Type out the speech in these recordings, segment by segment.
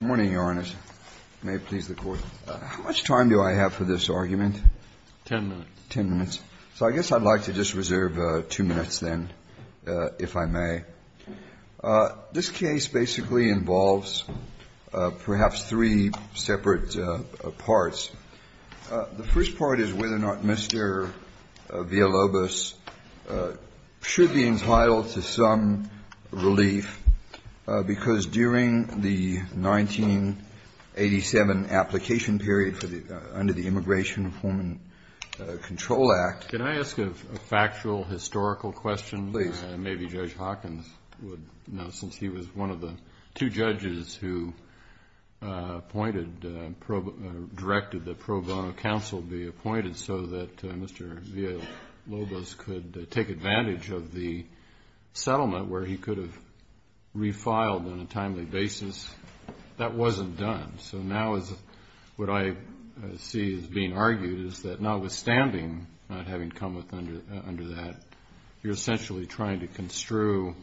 Good morning, Your Honor. May it please the Court. How much time do I have for this argument? Ten minutes. Ten minutes. So I guess I'd like to just reserve two minutes then, if I may. This case basically involves perhaps three separate parts. The first part is whether or not Mr. Villalobos should be entitled to some relief, because during the 1987 application period under the Immigration Reform and Control Act Can I ask a factual, historical question? Please. Maybe Judge Hawkins would know, since he was one of the two judges who appointed, directed that pro bono counsel be appointed so that Mr. Villalobos could take advantage of the settlement where he could have refiled on a timely basis. That wasn't done. So now what I see as being argued is that notwithstanding not having come under that, you're essentially trying to construe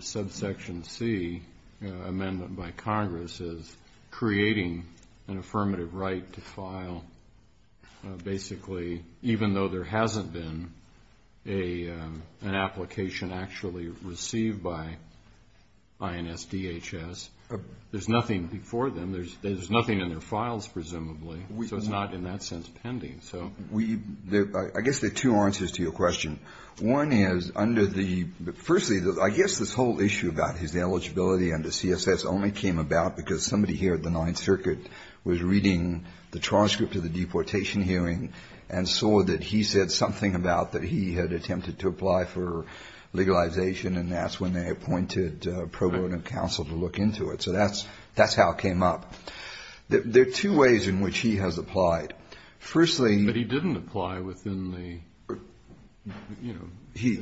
subsection C, amendment by Congress, as creating an affirmative right to file basically, even though there hasn't been an application actually received by INS DHS. There's nothing before them. There's nothing in their files, presumably. So it's not in that sense pending. I guess there are two answers to your question. One is under the, firstly, I guess this whole issue about his eligibility under CSS only came about because somebody here at the Ninth Circuit was reading the transcript of the deportation hearing and saw that he said something about that he had attempted to apply for legalization and that's when they appointed pro bono counsel to look into it. So that's how it came up. There are two ways in which he has applied. Firstly he didn't apply within the, you know,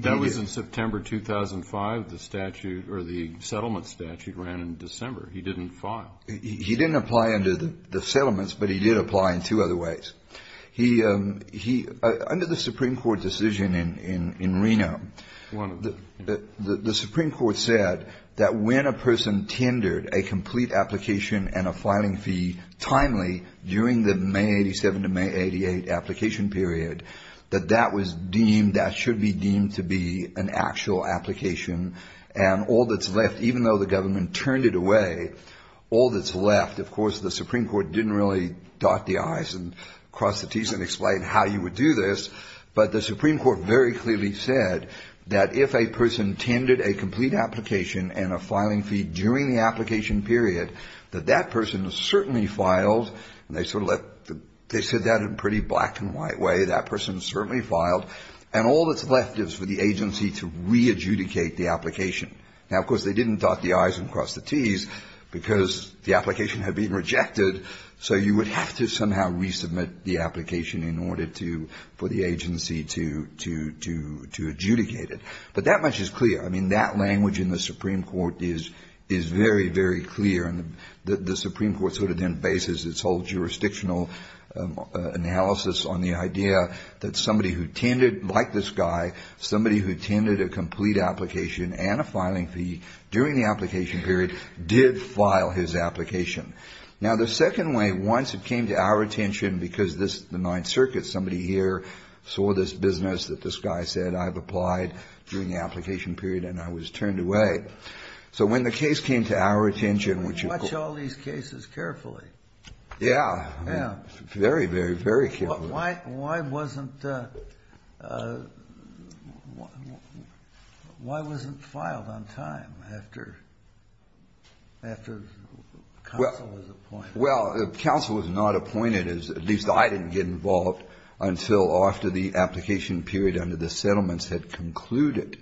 that was in September 2005, the statute or the settlement statute ran in December. He didn't file. He didn't apply under the settlements, but he did apply in two other ways. He, under the Supreme Court decision in Reno, the Supreme Court said that when a person tendered a complete application and a filing fee timely during the May 87 to May 88 application period, that that was deemed, that should be deemed to be an actual application and all that's left, even though the government turned it away, all that's left, of course, the Supreme Court didn't really dot the I's and cross the T's and explain how you would do this, but the Supreme Court very clearly said that if a person tendered a complete application and a filing fee during the application period, that that person certainly filed and they sort of left, they said that in a pretty black and white way, that person certainly filed and all that's left is for the agency to re-adjudicate the application. Now, of course, they didn't dot the I's and cross the T's because the application had been rejected, so you would have to somehow resubmit the application in order to, for the agency to adjudicate it. But that much is clear. I mean, that language in the Supreme Court is very, very clear, and the Supreme Court sort of then bases its whole jurisdictional analysis on the idea that somebody who tended, like this guy, somebody who tended a complete application and a filing fee during the application period did file his application. Now, the second way, once it came to our attention, because this, the Ninth Circuit, somebody here saw this business that this guy said, I've applied during the application period and I was turned away. So when the case came to our attention, which... But we watch all these cases carefully. Yeah. Yeah. Very, very, very carefully. Why wasn't, why wasn't filed on time after, after counsel was appointed? Well, counsel was not appointed, at least I didn't get involved, until after the application period under the settlements had concluded.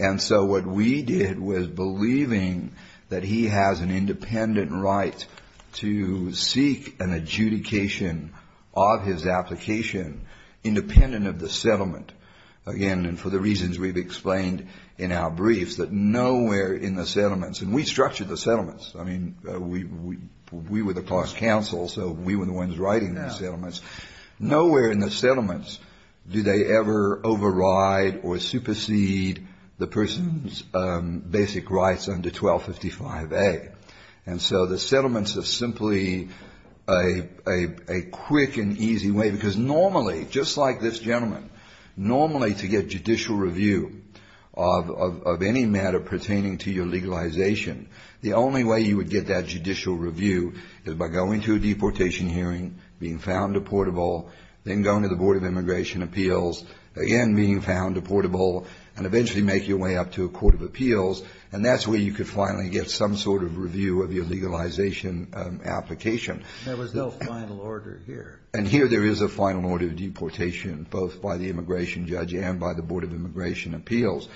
And so what we did was believing that he has an independent right to seek an adjudication of his application, independent of the settlement. Again, and for the reasons we've explained in our briefs, that nowhere in the settlements, and we structured the settlements. I mean, we were the close counsel, so we were the ones writing the settlements. Yeah. Nowhere in the settlements do they ever override or supersede the person's basic rights under 1255A. And so the settlements are simply a quick and easy way, because normally, just like this gentleman, normally to get judicial review of any matter pertaining to your legalization, the only way you would get that judicial review is by going to a deportation hearing, being found deportable, then going to the Board of Immigration Appeals, again, being found deportable, and eventually make your way up to a court of appeals, and that's where you could finally get some sort of review of your legalization application. There was no final order here. And here there is a final order of deportation, both by the immigration judge and by the Board of Immigration Appeals.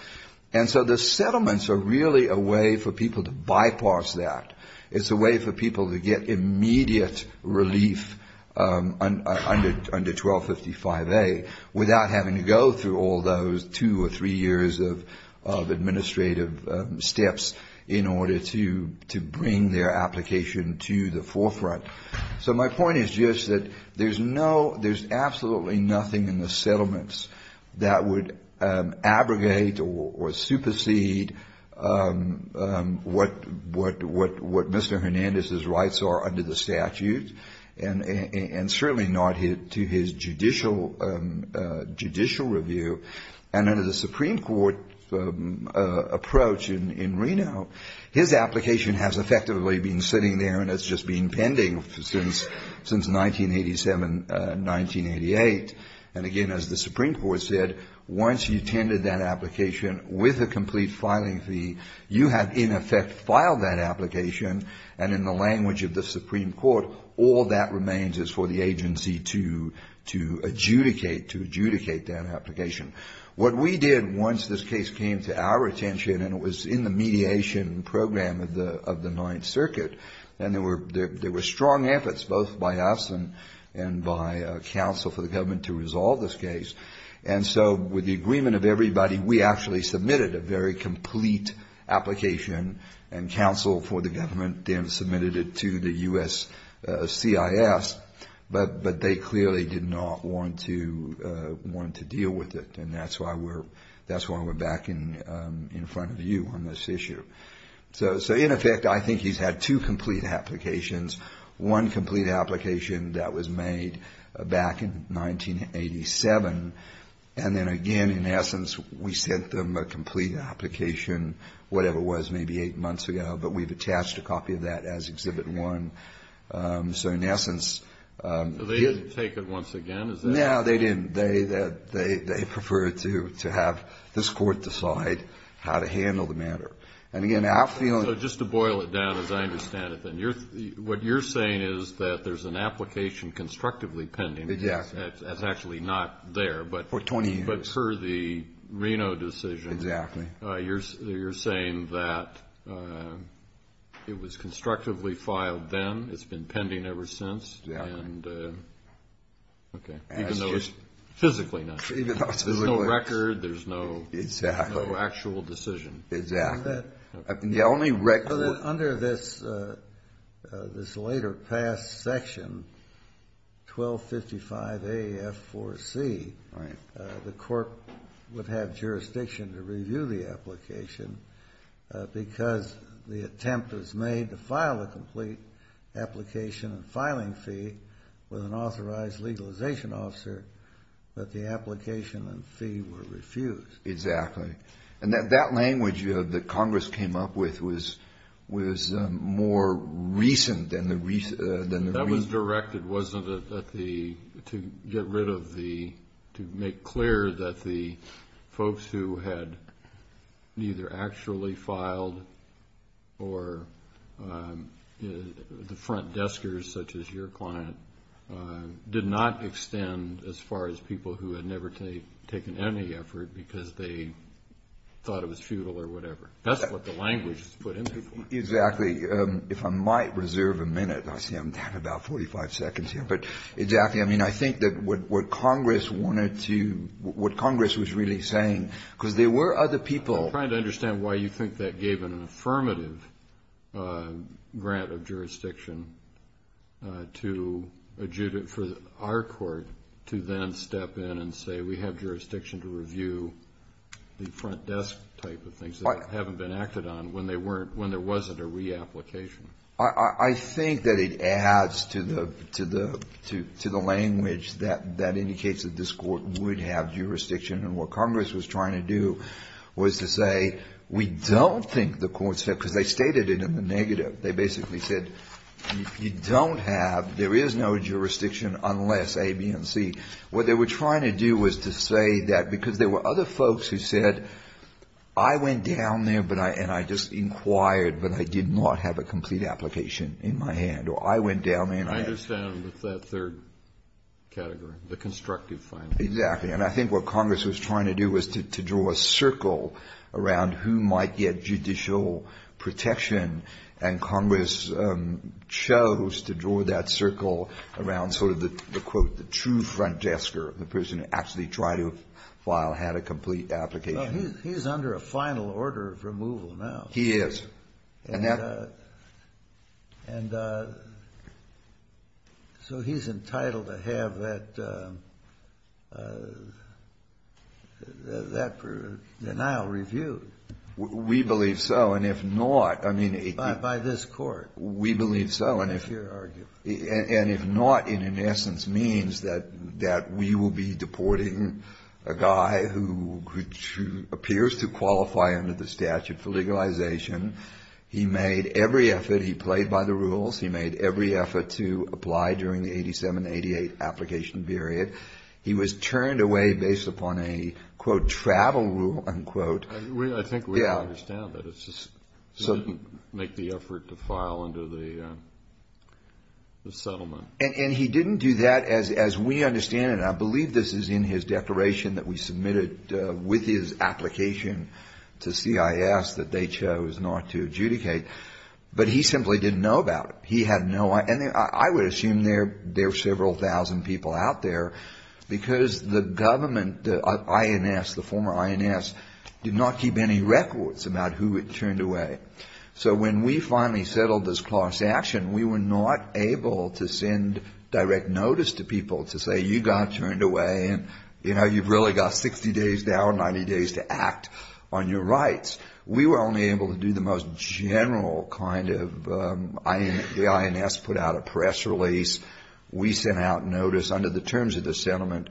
And so the settlements are really a way for people to bypass that. It's a way for people to get immediate relief under 1255A without having to go through all those two or three years of administrative steps in order to bring their application to the forefront. So my point is just that there's absolutely nothing in the settlements that would abrogate or supersede what Mr. Hernandez's rights are under the statute and certainly not to his judicial review. And under the Supreme Court approach in Reno, his application has effectively been sitting there and has just been pending since 1987, 1988. And again, as the Supreme Court said, once you attended that application with a complete filing fee, you have in effect filed that application. And in the language of the Supreme Court, all that remains is for the agency to adjudicate that application. What we did once this case came to our attention, and it was in the mediation program of the Ninth Circuit, and there were strong efforts both by us and by counsel for the government to resolve this case. And so with the agreement of everybody, we actually submitted a very complete application and counsel for the government then submitted it to the U.S.CIS, but they clearly did not want to deal with it. And that's why we're back in front of you on this issue. So in effect, I think he's had two complete applications. One complete application that was made back in 1987, and then again, in essence, we sent them a complete application, whatever it was, maybe eight months ago, but we've attached a copy of that as Exhibit 1. So in essence they didn't take it once again. No, they didn't. They preferred to have this Court decide how to handle the matter. So just to boil it down as I understand it, what you're saying is that there's an application constructively pending, that's actually not there, but for the Reno decision, you're saying that it was constructively filed then, it's been pending ever since, even though it's physically not there. There's no record, there's no actual decision. Exactly. Under this later passed section, 1255AF4C, the Court would have jurisdiction to review the application because the attempt was made to file a complete application and filing fee with an authorized legalization officer, but the application and fee were refused. Exactly. And that language that Congress came up with was more recent than the... That was directed, wasn't it, to get rid of the... to make clear that the folks who had neither actually filed or the front deskers such as your client did not extend as far as people who had never taken any effort because they thought it was futile or whatever. That's what the language was put in there for. Exactly. If I might reserve a minute, I see I'm down about 45 seconds here, but exactly, I mean, I think that what Congress wanted to... what Congress was really saying, because there were other people... I'm trying to understand why you think that gave an affirmative grant of jurisdiction for our court to then step in and say, we have jurisdiction to review the front desk type of things that haven't been acted on when there wasn't a reapplication. I think that it adds to the language that indicates that this Court would have jurisdiction, and what Congress was trying to do was to say, we don't think the Court's... because they stated it in the negative. They basically said, if you don't have... there is no jurisdiction unless A, B, and C. What they were trying to do was to say that, because there were other folks who said, I went down there and I just inquired, but I did not have a complete application in my hand, or I went down there and I... I understand with that third category, the constructive filing. Exactly. And I think what Congress was trying to do was to draw a circle around who might get judicial protection, and Congress chose to draw that circle around sort of the, quote, the true front desker, the person who actually tried to file, had a complete application. He's under a final order of removal now. He is. And so he's entitled to have that denial reviewed. We believe so, and if not, I mean... By this Court. We believe so, and if not, it in essence means that we will be deporting a guy who appears to qualify under the statute for legalization. He made every effort. He played by the rules. He made every effort to apply during the 87-88 application period. He was turned away based upon a, quote, travel rule, unquote. I think we understand that. It's just he didn't make the effort to file under the settlement. And he didn't do that, as we understand it, and I believe this is in his declaration that we submitted with his application to CIS that they chose not to adjudicate. But he simply didn't know about it. He had no idea. I would assume there are several thousand people out there because the government, the INS, the former INS, did not keep any records about who had turned away. So when we finally settled this class action, we were not able to send direct notice to people to say you got turned away and, you know, you've really got 60 days to hour, 90 days to act on your rights. We were only able to do the most general kind of, the INS put out a press release. We sent out notice under the terms of the settlement.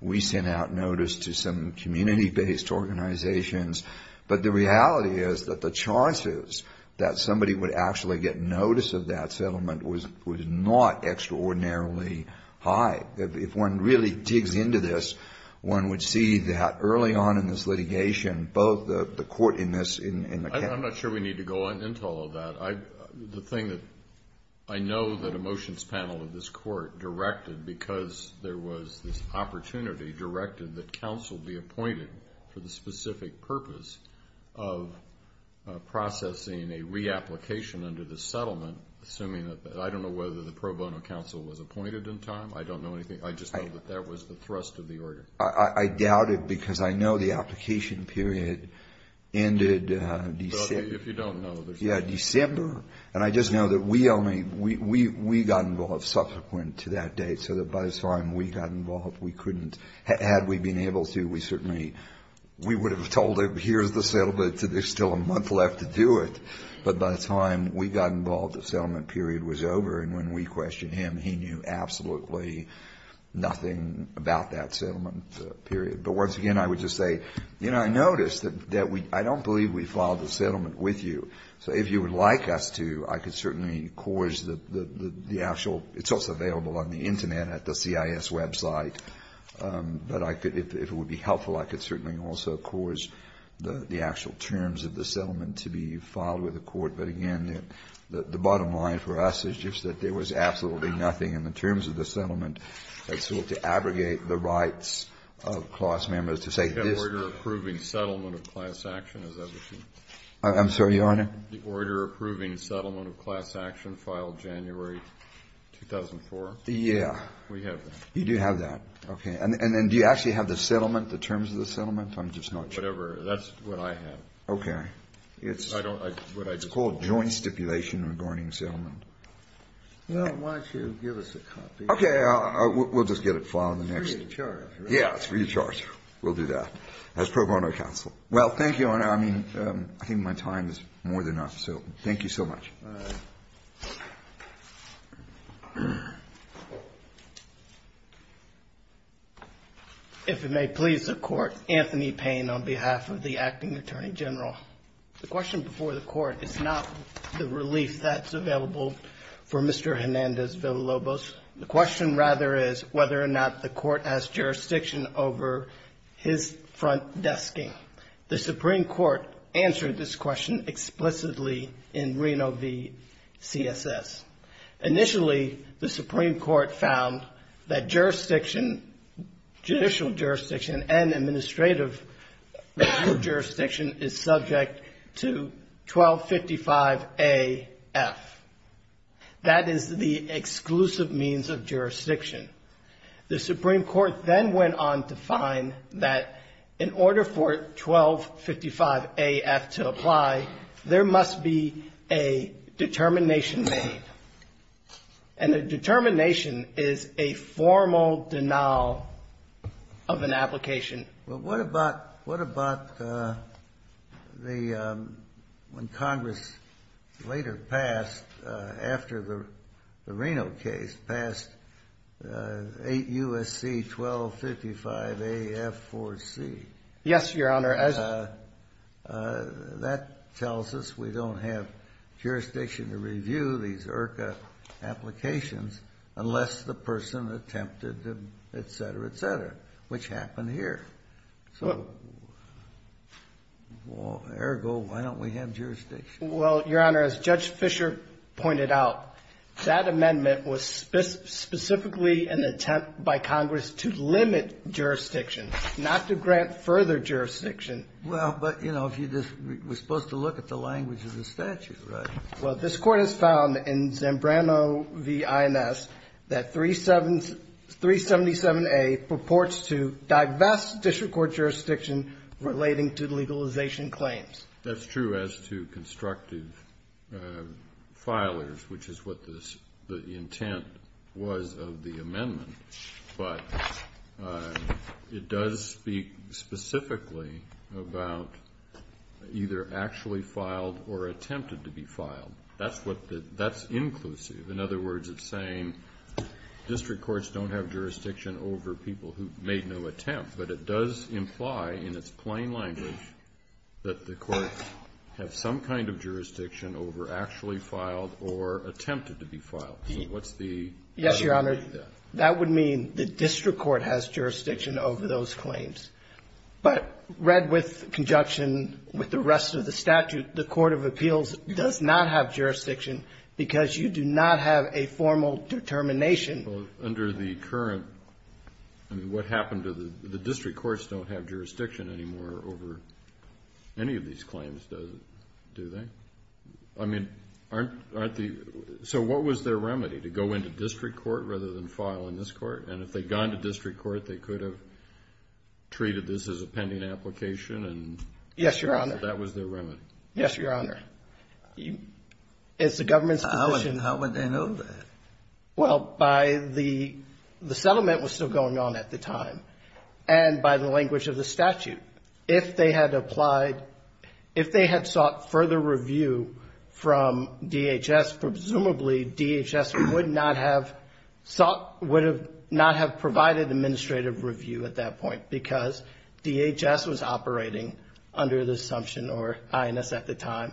We sent out notice to some community-based organizations. But the reality is that the chances that somebody would actually get notice of that settlement was not extraordinarily high. If one really digs into this, one would see that early on in this litigation, both the court in this and the county. I'm not sure we need to go into all of that. The thing that I know that a motions panel of this court directed because there was this opportunity directed that counsel be appointed for the specific purpose of processing a reapplication under the settlement, assuming that I don't know whether the pro bono counsel was appointed in time. I don't know anything. I just know that that was the thrust of the order. I doubt it because I know the application period ended December. If you don't know, there's nothing. Yeah, December. And I just know that we only, we got involved subsequent to that date so that by the time we got involved, we couldn't. Had we been able to, we certainly, we would have told him, here's the settlement, there's still a month left to do it. But by the time we got involved, the settlement period was over. And when we questioned him, he knew absolutely nothing about that settlement period. But once again, I would just say, you know, I noticed that we, I don't believe we filed the settlement with you. So if you would like us to, I could certainly cause the actual, it's also available on the Internet at the CIS website. But I could, if it would be helpful, I could certainly also cause the actual terms of the settlement to be filed with the court. But again, the bottom line for us is just that there was absolutely nothing in the terms of the settlement that sought to abrogate the rights of class members to say this. Do you have order approving settlement of class action? Is that what you? I'm sorry, Your Honor? The order approving settlement of class action filed January 2004. Yeah. We have that. You do have that. Okay. And then do you actually have the settlement, the terms of the settlement? I'm just not sure. Whatever. That's what I have. Okay. It's called joint stipulation regarding settlement. Well, why don't you give us a copy? Okay. We'll just get it filed in the next. It's free of charge, right? Yeah, it's free of charge. We'll do that as pro bono counsel. Well, thank you, Your Honor. I mean, I think my time is more than enough. So thank you so much. All right. If it may please the Court, Anthony Payne on behalf of the Acting Attorney General. The question before the Court is not the relief that's available for Mr. Hernandez Villalobos. The question, rather, is whether or not the Court has jurisdiction over his front desking. The Supreme Court answered this question explicitly in Reno v. CSS. Initially, the Supreme Court found that jurisdiction, judicial jurisdiction, and administrative jurisdiction is subject to 1255A-F. The Supreme Court then went on to find that in order for 1255A-F to apply, there must be a determination made. And a determination is a formal denial of an application. Well, what about when Congress later passed, after the Reno case, passed 8 U.S.C. 1255A-F-4C? Yes, Your Honor. That tells us we don't have jurisdiction to review these IRCA applications unless the person attempted to, et cetera, et cetera, which happened here. So, ergo, why don't we have jurisdiction? Well, Your Honor, as Judge Fischer pointed out, that amendment was specifically an attempt by Congress to limit jurisdiction, not to grant further jurisdiction. Well, but, you know, if you just, we're supposed to look at the language of the statute, right? Well, this Court has found in Zambrano v. INS that 377A purports to divest district court jurisdiction relating to legalization claims. That's true as to constructive filers, which is what the intent was of the amendment. But it does speak specifically about either actually filed or attempted to be filed. That's what the, that's inclusive. In other words, it's saying district courts don't have jurisdiction over people who made no attempt. But it does imply, in its plain language, that the courts have some kind of jurisdiction over actually filed or attempted to be filed. So what's the category there? Yes, Your Honor. That would mean the district court has jurisdiction over those claims. But read with conjunction with the rest of the statute, the court of appeals does not have jurisdiction because you do not have a formal determination. Well, under the current, I mean, what happened to the, the district courts don't have jurisdiction anymore over any of these claims, do they? I mean, aren't the, so what was their remedy? To go into district court rather than file in this court? And if they'd gone to district court, they could have treated this as a pending application and Yes, Your Honor. So that was their remedy. Yes, Your Honor. It's the government's position. How would they know that? Well, by the, the settlement was still going on at the time. And by the language of the statute. If they had applied, if they had sought further review from DHS, presumably DHS would not have sought, would not have provided administrative review at that point because DHS was operating under this assumption or INS at the time.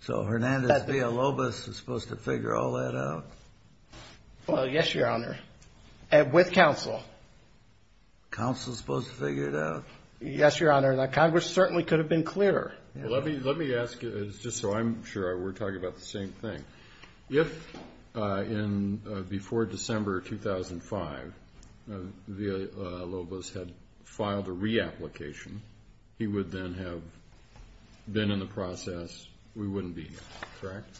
So Hernandez Villalobos was supposed to figure all that out? Well, yes, Your Honor. And with counsel. Counsel was supposed to figure it out? Yes, Your Honor. Now, Congress certainly could have been clearer. Let me, let me ask you, just so I'm sure we're talking about the same thing. If in, before December 2005, Villalobos had filed a reapplication, he would then have been in the process, we wouldn't be here, correct?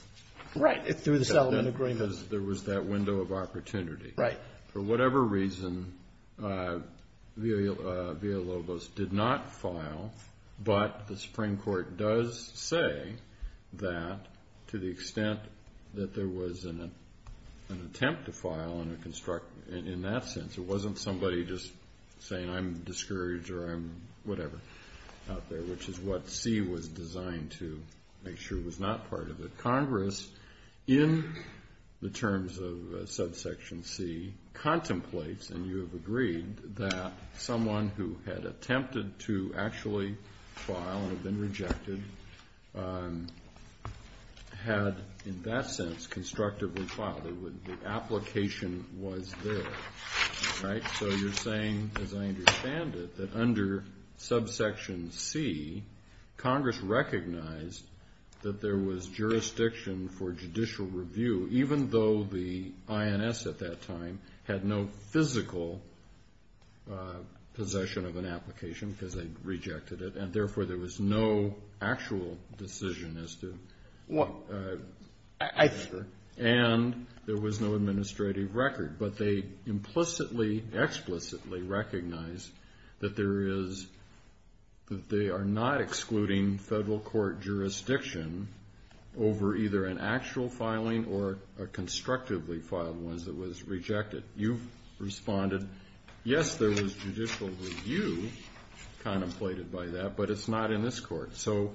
Right, through the settlement agreement. Because there was that window of opportunity. Right. For whatever reason, Villalobos did not file, but the Supreme Court does say that to the extent that there was an attempt to file and a construct, in that sense, it wasn't somebody just saying, I'm discouraged or I'm whatever out there, which is what C was designed to make sure was not part of it. Congress, in the terms of subsection C, contemplates, and you have agreed, that someone who had attempted to actually file and had been rejected had, in that sense, constructively filed. The application was there. Right? So you're saying, as I understand it, that under subsection C, Congress recognized that there was jurisdiction for judicial review, even though the INS at that time had no physical possession of an application because they rejected it, and, therefore, there was no actual decision as to. Well, I. And there was no administrative record. But they implicitly, explicitly recognized that there is, that they are not excluding federal court jurisdiction over either an actual filing or a constructively filed one that was rejected. You've responded, yes, there was judicial review contemplated by that, but it's not in this court. So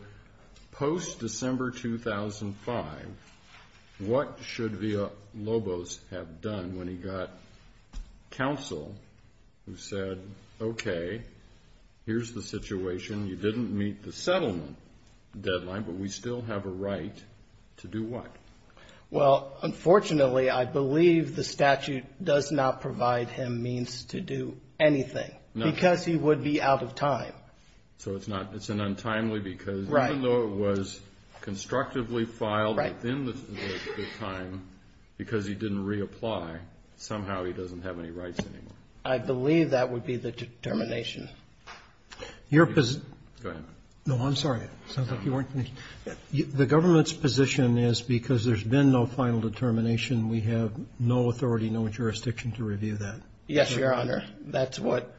post-December 2005, what should Villalobos have done when he got counsel who said, okay, here's the situation. You didn't meet the settlement deadline, but we still have a right to do what? Well, unfortunately, I believe the statute does not provide him means to do anything. No. Because he would be out of time. So it's not. It's an untimely because. Right. Even though it was constructively filed within the time because he didn't reapply, somehow he doesn't have any rights anymore. I believe that would be the determination. Your position. Go ahead. No, I'm sorry. The government's position is because there's been no final determination, we have no authority, no jurisdiction to review that. Yes, Your Honor. That's what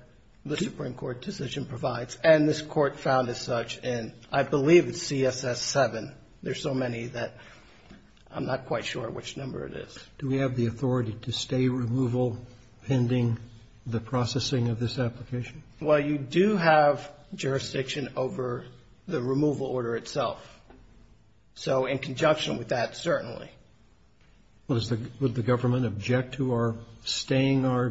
the Supreme Court decision provides. And this Court found as such, and I believe it's CSS7. There's so many that I'm not quite sure which number it is. Do we have the authority to stay removal pending the processing of this application? Well, you do have jurisdiction over the removal order itself. So in conjunction with that, certainly. Would the government object to our staying our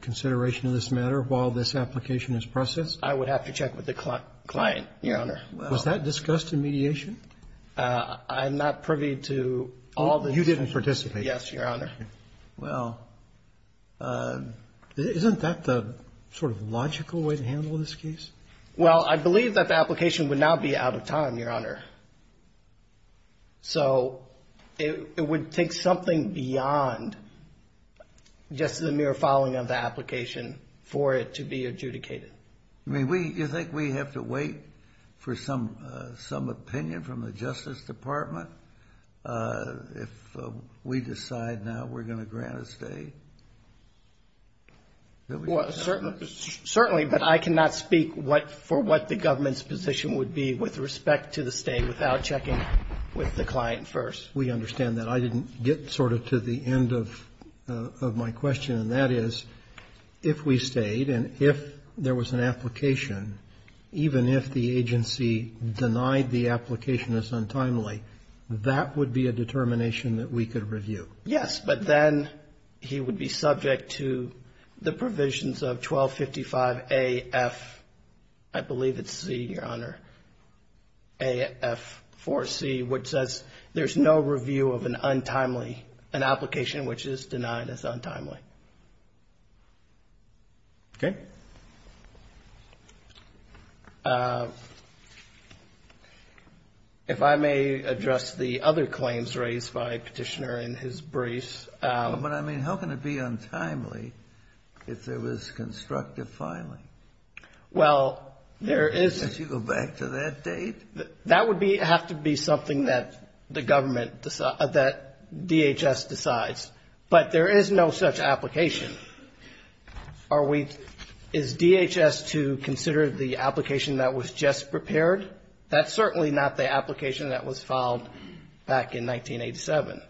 consideration of this matter while this application is processed? I would have to check with the client, Your Honor. Was that discussed in mediation? I'm not privy to all the. You didn't participate. Yes, Your Honor. Well, isn't that the sort of logical way to handle this case? Well, I believe that the application would now be out of time, Your Honor. So it would take something beyond just the mere following of the application for it to be adjudicated. I mean, you think we have to wait for some opinion from the Justice Department? If we decide now we're going to grant a stay? Certainly. But I cannot speak for what the government's position would be with respect to the stay without checking with the client first. We understand that. I didn't get sort of to the end of my question. And that is, if we stayed and if there was an application, even if the agency denied the application as untimely, that would be a determination that we could review. Yes, but then he would be subject to the provisions of 1255AF, I believe it's C, Your Honor, AF4C, which says there's no review of an untimely, an application which is denied as untimely. Okay. If I may address the other claims raised by Petitioner in his brace. But, I mean, how can it be untimely if there was constructive filing? Well, there is. Did you go back to that date? That would have to be something that the government, that DHS decides. But there is no such application. Are we, is DHS to consider the application that was just prepared? That's certainly not the application that was filed back in 1987.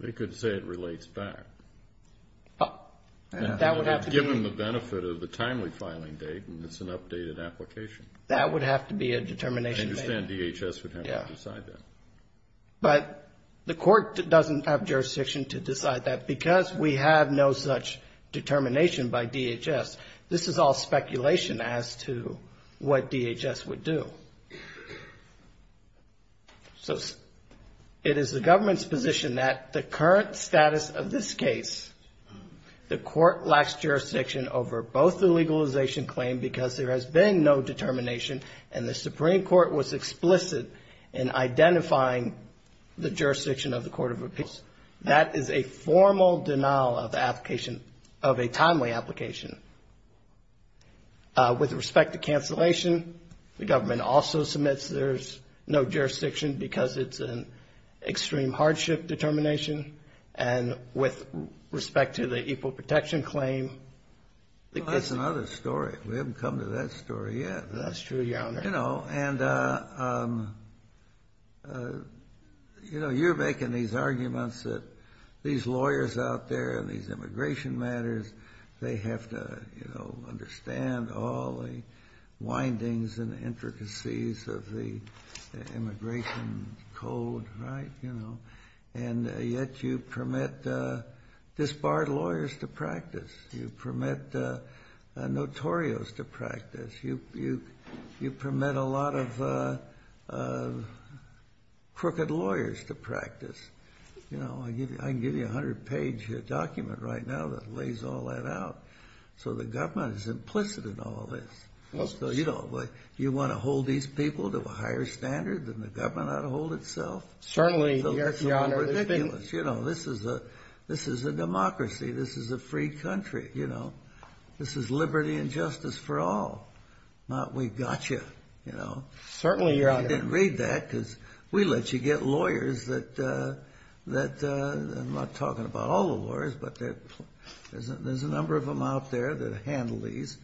They could say it relates back. That would have to be. Given the benefit of the timely filing date and it's an updated application. That would have to be a determination. I understand DHS would have to decide that. But the court doesn't have jurisdiction to decide that because we have no such determination by DHS. This is all speculation as to what DHS would do. So it is the government's position that the current status of this case, the court lacks jurisdiction over both the legalization claim because there has been no determination and the Supreme Court was explicit in identifying the jurisdiction of the Court of Appeals. That is a formal denial of application, of a timely application. With respect to cancellation, the government also submits there's no jurisdiction because it's an extreme hardship determination. And with respect to the equal protection claim. That's another story. We haven't come to that story yet. That's true, Your Honor. You know, and you're making these arguments that these lawyers out there and these immigration matters, they have to understand all the windings and intricacies of the immigration code, right? You know, and yet you permit disbarred lawyers to practice. You permit notorious to practice. You permit a lot of crooked lawyers to practice. You know, I can give you a hundred-page document right now that lays all that out. So the government is implicit in all of this. So, you know, do you want to hold these people to a higher standard than the government ought to hold itself? Certainly, Your Honor. That's ridiculous. You know, this is a democracy. This is a free country, you know. This is liberty and justice for all, not we got you, you know. Certainly, Your Honor. I didn't read that because we let you get lawyers that, I'm not talking about all the lawyers, but there's a number of them out there that handle these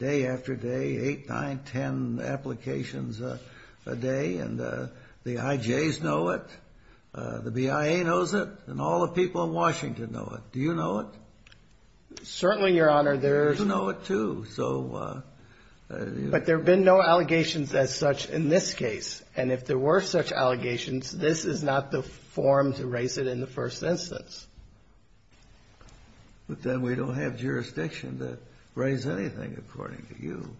day after day, eight, nine, ten applications a day. And the IJs know it. The BIA knows it. And all the people in Washington know it. Do you know it? Certainly, Your Honor. You know it, too. But there have been no allegations as such in this case. And if there were such allegations, this is not the form to raise it in the first instance. But then we don't have jurisdiction to raise anything according to you.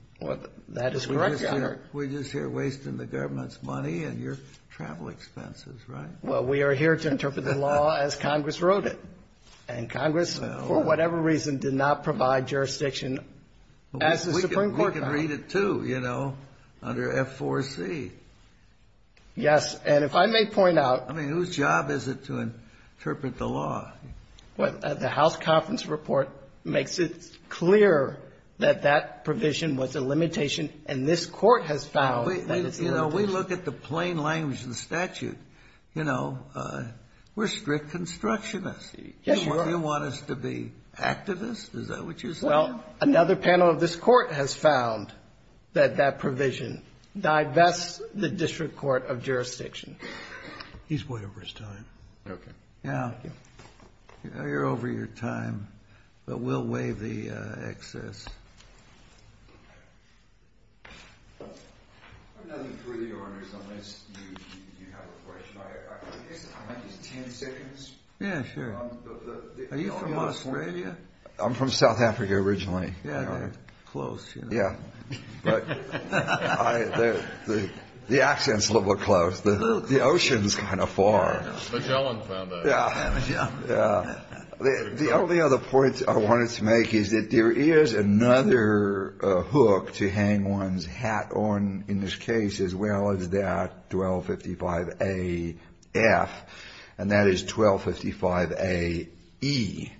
That is correct, Your Honor. We're just here wasting the government's money and your travel expenses, right? Well, we are here to interpret the law as Congress wrote it. And Congress, for whatever reason, did not provide jurisdiction as the Supreme Court found it. We can read it, too, you know, under F4C. Yes. And if I may point out. I mean, whose job is it to interpret the law? The House Conference Report makes it clear that that provision was a limitation and this Court has found that it's a limitation. You know, we look at the plain language of the statute. You know, we're strict constructionists. Yes, you are. Do you want us to be activists? Is that what you're saying? Well, another panel of this Court has found that that provision divests the district court of jurisdiction. He's way over his time. Okay. Yeah. You're over your time. But we'll waive the excess. I have nothing further, Your Honor, unless you have a question. I might just have 10 seconds. Yeah, sure. Are you from Australia? I'm from South Africa originally. Yeah, they're close, you know. Yeah. But the accent's a little close. The ocean's kind of far. Magellan found that. Yeah. The only other point I wanted to make is that there is another hook to hang one's hat on in this case as well as that 1255A-F, and that is 1255A-E.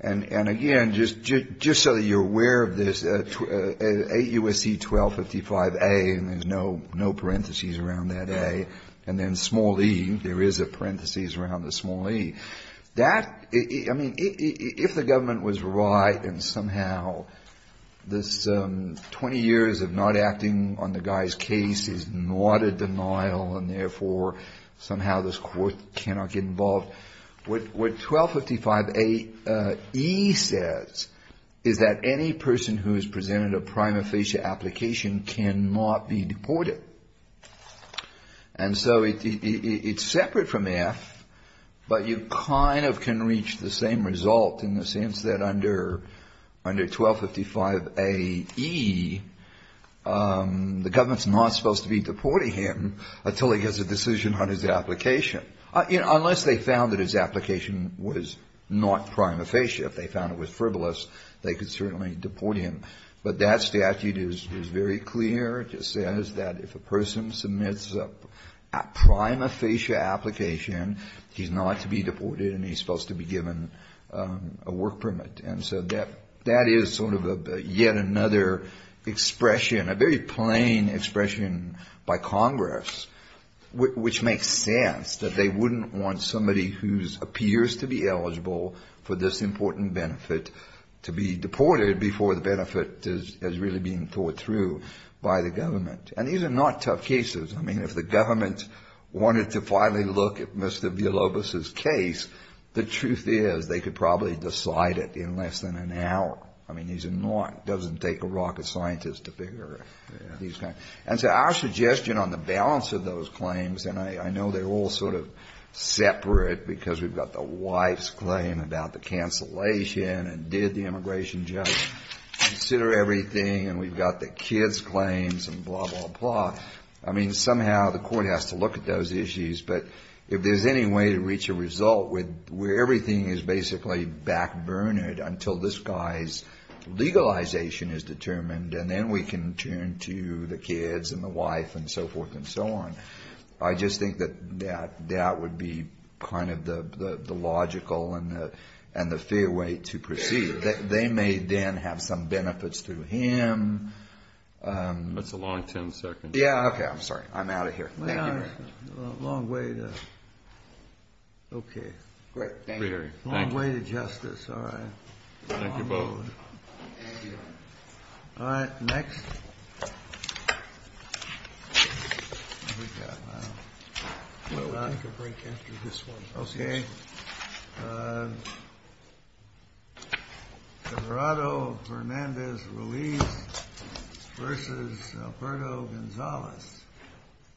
And, again, just so that you're aware of this, 8 U.S.C. 1255A, and there's no parentheses around that A, and then small E, there is a parentheses around the small E. That, I mean, if the government was right and somehow this 20 years of not acting on the guy's case is not a denial and, therefore, somehow this Court cannot get involved, what 1255A-E says is that any person who has presented a prima facie application cannot be deported. And so it's separate from F, but you kind of can reach the same result in the sense that under 1255A-E, the government's not supposed to be deporting him until he gets a decision on his application. Unless they found that his application was not prima facie. If they found it was frivolous, they could certainly deport him. But that statute is very clear. It just says that if a person submits a prima facie application, he's not to be deported and he's supposed to be given a work permit. And so that is sort of yet another expression, a very plain expression by Congress, which makes sense, that they wouldn't want somebody who appears to be eligible for this important benefit to be deported before the benefit is really being thought through by the government. And these are not tough cases. I mean, if the government wanted to finally look at Mr. Villalobos's case, the truth is, they could probably decide it in less than an hour. I mean, these are not, it doesn't take a rocket scientist to figure these kinds. And so our suggestion on the balance of those claims, and I know they're all sort of separate because we've got the wife's claim about the cancellation and did the immigration judge consider everything and we've got the kid's claims and blah, blah, blah. I mean, somehow the court has to look at those issues. But if there's any way to reach a result where everything is basically backburnered until this guy's legalization is determined and then we can turn to the kids and the wife and so forth and so on, I just think that that would be kind of the logical and the fair way to proceed. They may then have some benefits to him. That's a long 10 seconds. Yeah, okay. I'm sorry. I'm out of here. Thank you very much. A long way to, okay. Great. Thank you. A long way to justice. All right. Thank you both. Thank you. All right, next. We'll take a break after this one. Okay.